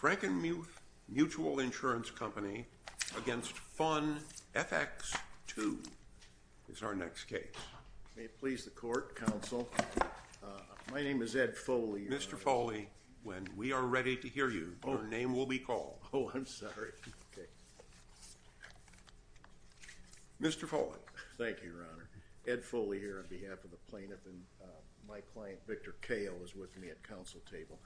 Frankinmuth Mutual Insurance Company v. Fun F-X II is our next case. May it please the Court, Counsel. My name is Ed Foley. Mr. Foley, when we are ready to hear you, your name will be called. Oh, I'm sorry. Okay. Mr. Foley. Thank you, Your Honor. Ed Foley here on behalf of the plaintiff, and my client, Victor Cahill, is with me at counsel table.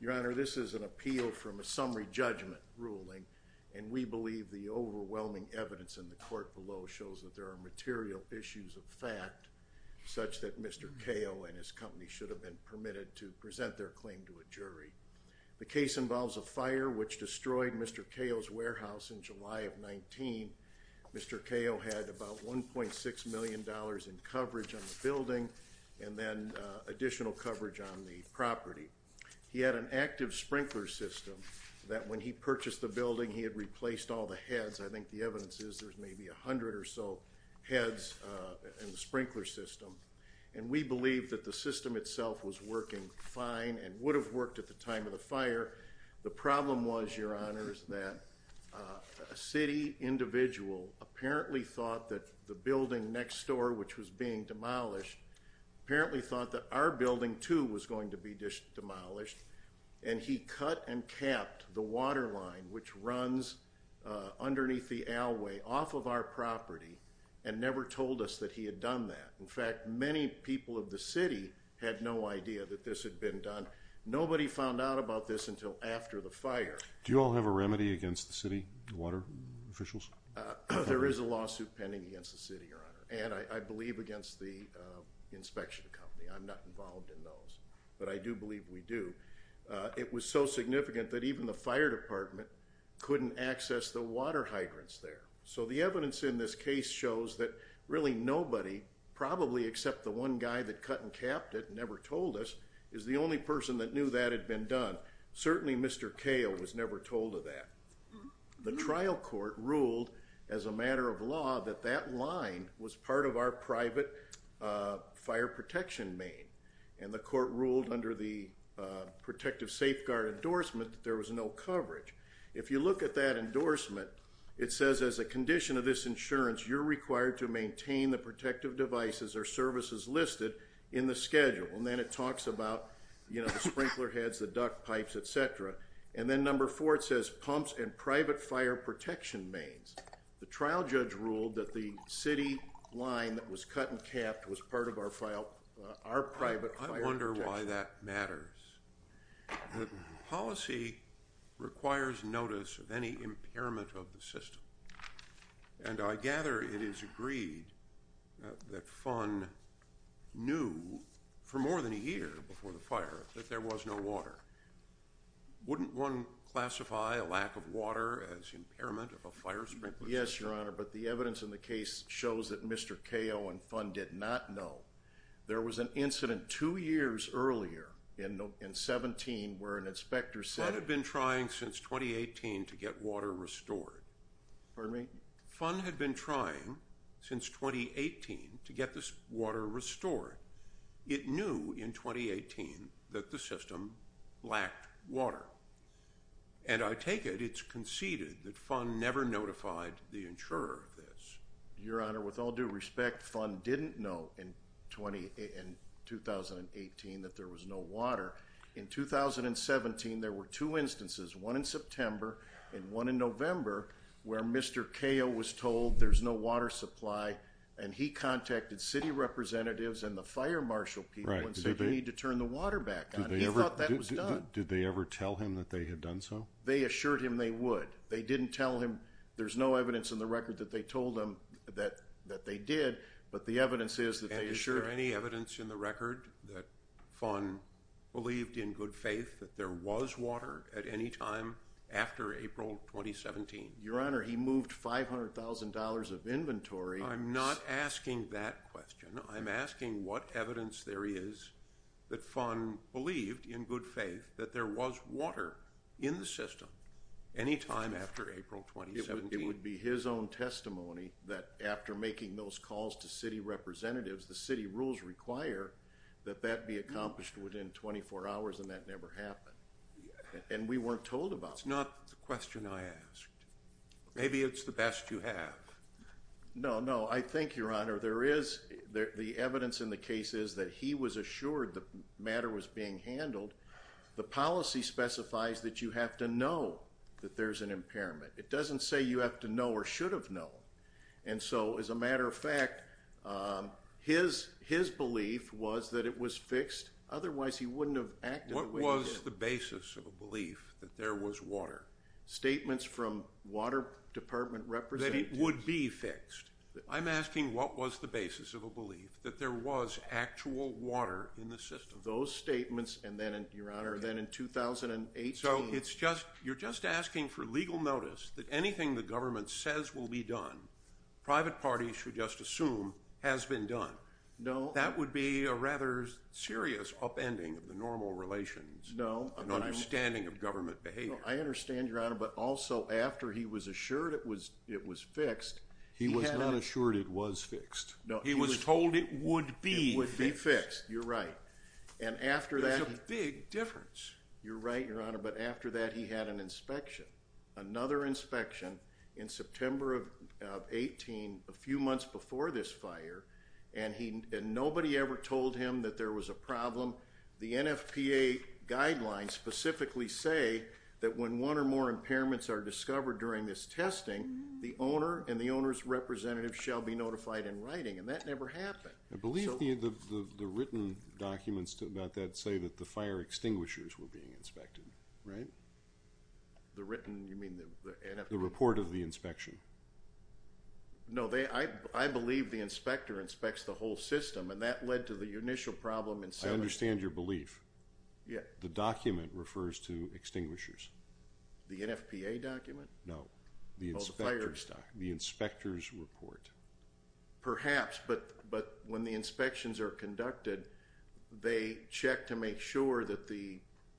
Your Honor, this is an appeal from a summary judgment ruling, and we believe the overwhelming evidence in the court below shows that there are material issues of fact such that Mr. Cahill and his company should have been permitted to present their claim to a jury. The case involves a fire which destroyed Mr. Cahill's warehouse in July of 19. Mr. Cahill had about $1.6 million in coverage on the building and then additional coverage on the property. He had an active sprinkler system that when he purchased the building, he had replaced all the heads. I think the evidence is there's maybe 100 or so heads in the sprinkler system, and we believe that the system itself was working fine and would have worked at the time of the fire. The problem was, Your Honor, is that a city individual apparently thought that the building next door, which was being demolished, apparently thought that our building, too, was going to be demolished, and he cut and capped the water line which runs underneath the alleyway off of our property and never told us that he had done that. In fact, many people of the city had no idea that this had been done. Nobody found out about this until after the fire. Do you all have a remedy against the city water officials? There is a lawsuit pending against the city, Your Honor, and I believe against the inspection company. I'm not involved in those, but I do believe we do. It was so significant that even the fire department couldn't access the water hydrants there. So the evidence in this case shows that really nobody, probably except the one guy that cut and capped it and never told us, is the only person that knew that had been done. Certainly Mr. Kahle was never told of that. The trial court ruled as a matter of law that that line was part of our private fire protection main, and the court ruled under the protective safeguard endorsement that there was no coverage. If you look at that endorsement, it says as a condition of this insurance, you're required to maintain the protective devices or services listed in the schedule. And then it talks about the sprinkler heads, the duct pipes, et cetera. And then number four, it says pumps and private fire protection mains. The trial judge ruled that the city line that was cut and capped was part of our private fire protection. I wonder why that matters. Policy requires notice of any impairment of the system. And I gather it is agreed that FUN knew for more than a year before the fire that there was no water. Wouldn't one classify a lack of water as impairment of a fire sprinkler system? Yes, Your Honor, but the evidence in the case shows that Mr. Kahle and FUN did not know. There was an incident two years earlier in 17 where an inspector said— Pardon me? FUN had been trying since 2018 to get this water restored. It knew in 2018 that the system lacked water. And I take it it's conceded that FUN never notified the insurer of this. Your Honor, with all due respect, FUN didn't know in 2018 that there was no water. In 2017, there were two instances, one in September and one in November, where Mr. Kahle was told there's no water supply. And he contacted city representatives and the fire marshal people and said we need to turn the water back on. He thought that was done. Did they ever tell him that they had done so? They assured him they would. They didn't tell him—there's no evidence in the record that they told him that they did, but the evidence is that they assured— Is there any evidence in the record that FUN believed in good faith that there was water at any time after April 2017? Your Honor, he moved $500,000 of inventory— I'm not asking that question. I'm asking what evidence there is that FUN believed in good faith that there was water in the system any time after April 2017. It would be his own testimony that after making those calls to city representatives, the city rules require that that be accomplished within 24 hours, and that never happened. And we weren't told about that. It's not the question I asked. Maybe it's the best you have. No, no. I think, Your Honor, there is—the evidence in the case is that he was assured the matter was being handled. The policy specifies that you have to know that there's an impairment. It doesn't say you have to know or should have known. And so, as a matter of fact, his belief was that it was fixed. Otherwise, he wouldn't have acted the way he did. What was the basis of a belief that there was water? Statements from water department representatives. That it would be fixed. I'm asking what was the basis of a belief that there was actual water in the system? Those statements, and then, Your Honor, then in 2018— So, it's just—you're just asking for legal notice that anything the government says will be done, private parties should just assume has been done. No. That would be a rather serious upending of the normal relations. No. An understanding of government behavior. I understand, Your Honor, but also after he was assured it was fixed— He was not assured it was fixed. No. He was told it would be fixed. It would be fixed. You're right. And after that— There's a big difference. You're right, Your Honor, but after that, he had an inspection. Another inspection in September of 2018, a few months before this fire, and nobody ever told him that there was a problem. The NFPA guidelines specifically say that when one or more impairments are discovered during this testing, the owner and the owner's representative shall be notified in writing, and that never happened. I believe the written documents about that say that the fire extinguishers were being inspected, right? The written—you mean the NFPA— The report of the inspection. No, I believe the inspector inspects the whole system, and that led to the initial problem in— I understand your belief. Yeah. The document refers to extinguishers. The NFPA document? No. Oh, the fire's document. The inspector's report. Perhaps, but when the inspections are conducted, they check to make sure that the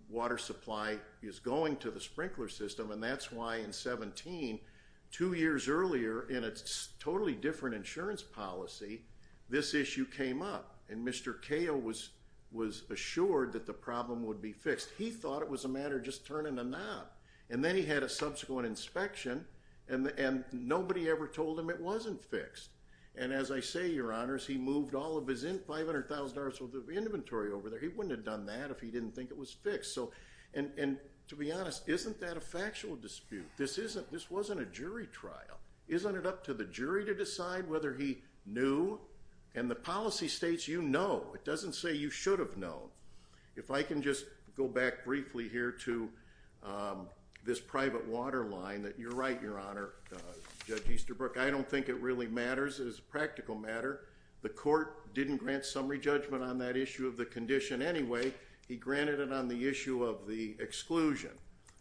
water supply is going to the sprinkler system, and that's why in 2017, two years earlier, in a totally different insurance policy, this issue came up, and Mr. Cahill was assured that the problem would be fixed. He thought it was a matter of just turning a knob, and then he had a subsequent inspection, and nobody ever told him it wasn't fixed. And as I say, Your Honors, he moved all of his $500,000 worth of inventory over there. He wouldn't have done that if he didn't think it was fixed. And to be honest, isn't that a factual dispute? This wasn't a jury trial. Isn't it up to the jury to decide whether he knew? And the policy states you know. It doesn't say you should have known. If I can just go back briefly here to this private water line that you're right, Your Honor, Judge Easterbrook, I don't think it really matters. It is a practical matter. The court didn't grant summary judgment on that issue of the condition anyway. He granted it on the issue of the exclusion,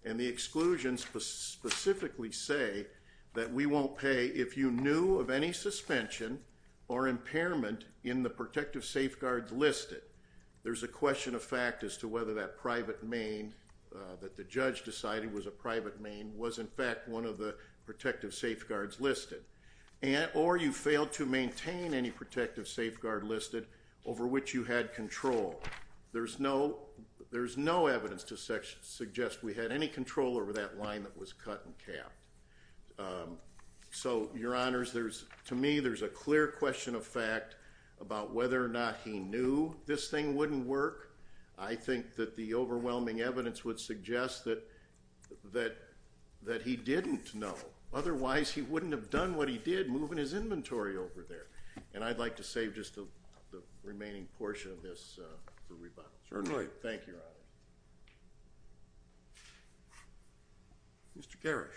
and the exclusions specifically say that we won't pay if you knew of any suspension or impairment in the protective safeguards listed. There's a question of fact as to whether that private main that the judge decided was a private main was in fact one of the protective safeguards listed. Or you failed to maintain any protective safeguard listed over which you had control. There's no evidence to suggest we had any control over that line that was cut and capped. So, Your Honors, to me there's a clear question of fact about whether or not he knew this thing wouldn't work. I think that the overwhelming evidence would suggest that he didn't know. Otherwise, he wouldn't have done what he did, moving his inventory over there. And I'd like to save just the remaining portion of this for rebuttal. Certainly. Thank you, Your Honor. Mr. Garish.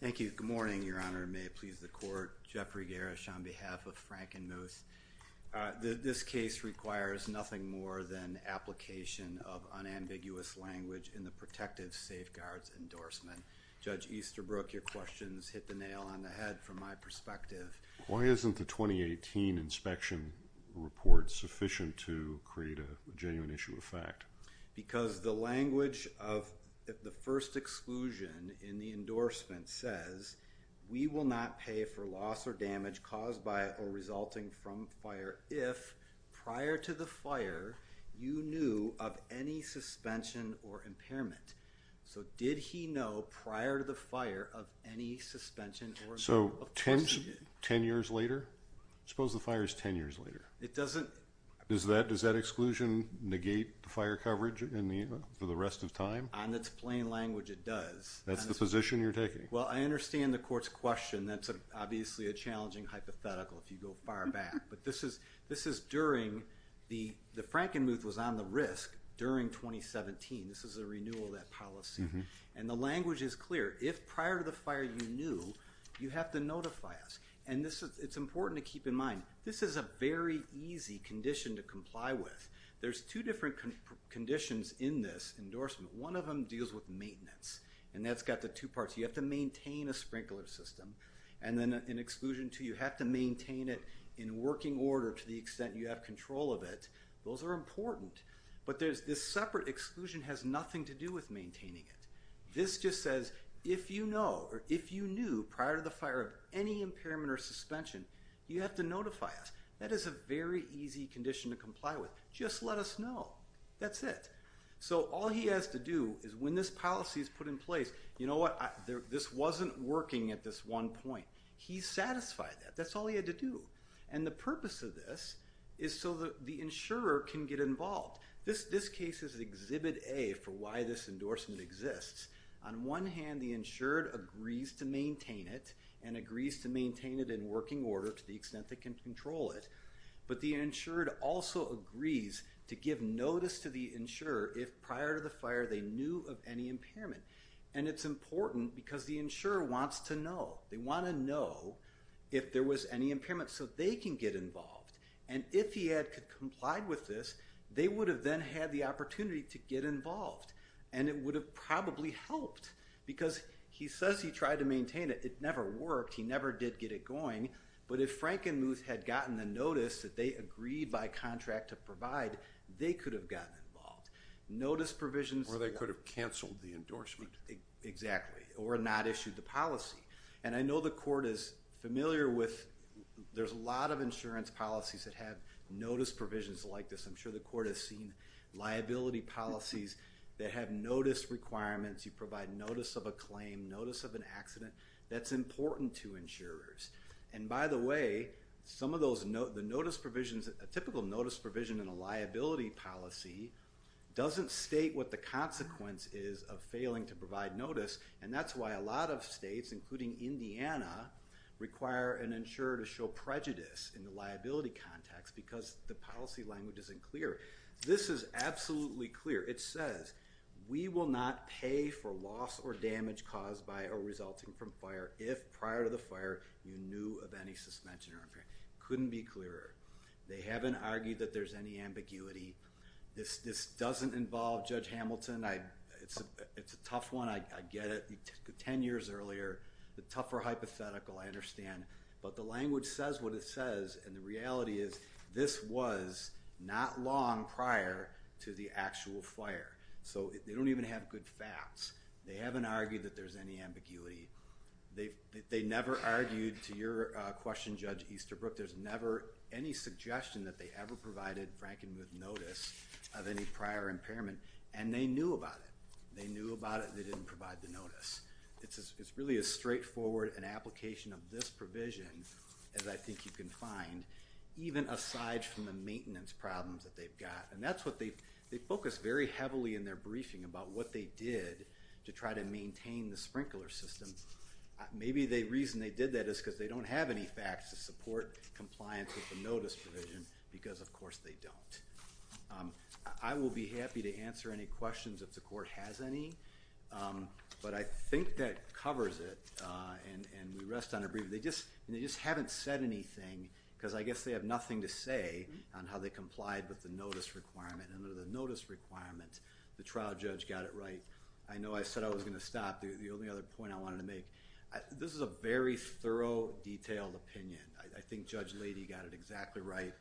Thank you. Good morning, Your Honor. May it please the Court. Jeffrey Garish on behalf of Frank and Moose. This case requires nothing more than application of unambiguous language in the protective safeguards endorsement. Judge Easterbrook, your questions hit the nail on the head from my perspective. Why isn't the 2018 inspection report sufficient to create a genuine issue of fact? Because the language of the first exclusion in the endorsement says, we will not pay for loss or damage caused by or resulting from fire if, prior to the fire, you knew of any suspension or impairment. So did he know, prior to the fire, of any suspension or impairment? Ten years later? I suppose the fire is ten years later. Does that exclusion negate the fire coverage for the rest of time? On its plain language, it does. That's the position you're taking? Well, I understand the Court's question. That's obviously a challenging hypothetical if you go far back. But this is during the Frank and Moose was on the risk during 2017. This is a renewal of that policy. And the language is clear. If, prior to the fire, you knew, you have to notify us. And it's important to keep in mind, this is a very easy condition to comply with. There's two different conditions in this endorsement. One of them deals with maintenance. And that's got the two parts. You have to maintain a sprinkler system. And then in exclusion two, you have to maintain it in working order to the extent you have control of it. Those are important. But this separate exclusion has nothing to do with maintaining it. This just says, if you knew prior to the fire of any impairment or suspension, you have to notify us. That is a very easy condition to comply with. Just let us know. That's it. So all he has to do is, when this policy is put in place, you know what, this wasn't working at this one point. He satisfied that. That's all he had to do. And the purpose of this is so that the insurer can get involved. This case is Exhibit A for why this endorsement exists. On one hand, the insured agrees to maintain it and agrees to maintain it in working order to the extent they can control it. But the insured also agrees to give notice to the insurer if, prior to the fire, they knew of any impairment. And it's important because the insurer wants to know. They want to know if there was any impairment so they can get involved. And if he had complied with this, they would have then had the opportunity to get involved. And it would have probably helped because he says he tried to maintain it. It never worked. He never did get it going. But if Frank and Muth had gotten the notice that they agreed by contract to provide, they could have gotten involved. Notice provisions. Or they could have canceled the endorsement. Exactly. Or not issued the policy. And I know the court is familiar with there's a lot of insurance policies that have notice provisions like this. I'm sure the court has seen liability policies that have notice requirements. You provide notice of a claim, notice of an accident. That's important to insurers. And, by the way, some of those notice provisions, a typical notice provision in a liability policy doesn't state what the consequence is of failing to provide notice. And that's why a lot of states, including Indiana, require an insurer to show prejudice in the liability context because the policy language isn't clear. This is absolutely clear. It says, we will not pay for loss or damage caused by or resulting from fire if prior to the fire you knew of any suspension or impairment. Couldn't be clearer. They haven't argued that there's any ambiguity. This doesn't involve Judge Hamilton. It's a tough one. I get it. Ten years earlier, the tougher hypothetical, I understand. But the language says what it says. And the reality is this was not long prior to the actual fire. So they don't even have good facts. They haven't argued that there's any ambiguity. They never argued, to your question, Judge Easterbrook, there's never any suggestion that they ever provided Frankenmuth notice of any prior impairment. And they knew about it. They knew about it. They didn't provide the notice. It's really as straightforward an application of this provision as I think you can find, even aside from the maintenance problems that they've got. And that's what they've focused very heavily in their briefing about what they did to try to maintain the sprinkler system. Maybe the reason they did that is because they don't have any facts to support compliance with the notice provision because, of course, they don't. I will be happy to answer any questions if the court has any. But I think that covers it. And we rest on a brief. They just haven't said anything because I guess they have nothing to say on how they complied with the notice requirement. And under the notice requirement, the trial judge got it right. I know I said I was going to stop. The only other point I wanted to make, this is a very thorough, detailed opinion. I think Judge Leidy got it exactly right.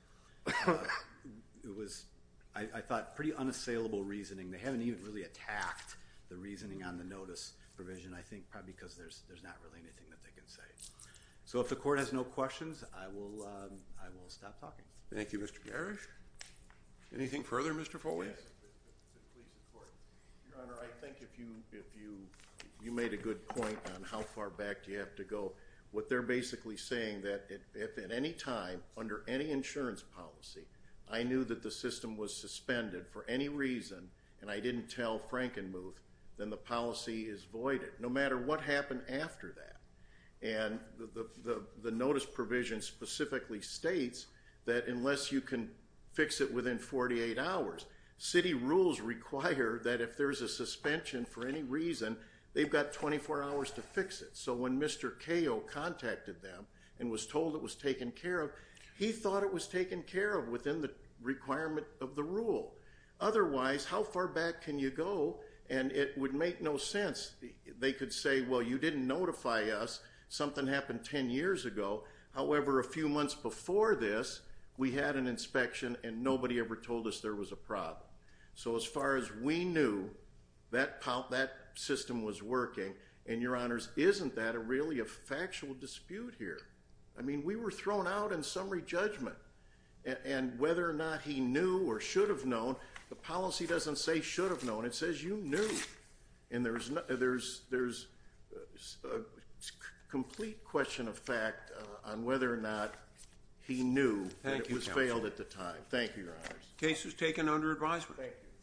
It was, I thought, pretty unassailable reasoning. They haven't even really attacked the reasoning on the notice provision, I think, probably because there's not really anything that they can say. So if the court has no questions, I will stop talking. Thank you, Mr. Garish. Anything further, Mr. Foley? Yes. The police and court. Your Honor, I think if you made a good point on how far back you have to go, what they're basically saying, that if at any time, under any insurance policy, I knew that the system was suspended for any reason, and I didn't tell Frankenmuth, then the policy is voided, no matter what happened after that. And the notice provision specifically states that unless you can fix it within 48 hours, city rules require that if there's a suspension for any reason, they've got 24 hours to fix it. So when Mr. Cahill contacted them and was told it was taken care of, he thought it was taken care of within the requirement of the rule. Otherwise, how far back can you go? And it would make no sense. They could say, well, you didn't notify us. Something happened 10 years ago. However, a few months before this, we had an inspection, and nobody ever told us there was a problem. So as far as we knew, that system was working. And, Your Honors, isn't that really a factual dispute here? I mean, we were thrown out in summary judgment. And whether or not he knew or should have known, the policy doesn't say should have known. It says you knew. And there's a complete question of fact on whether or not he knew that it was failed at the time. Thank you, Your Honors. Case is taken under advisement. Thank you.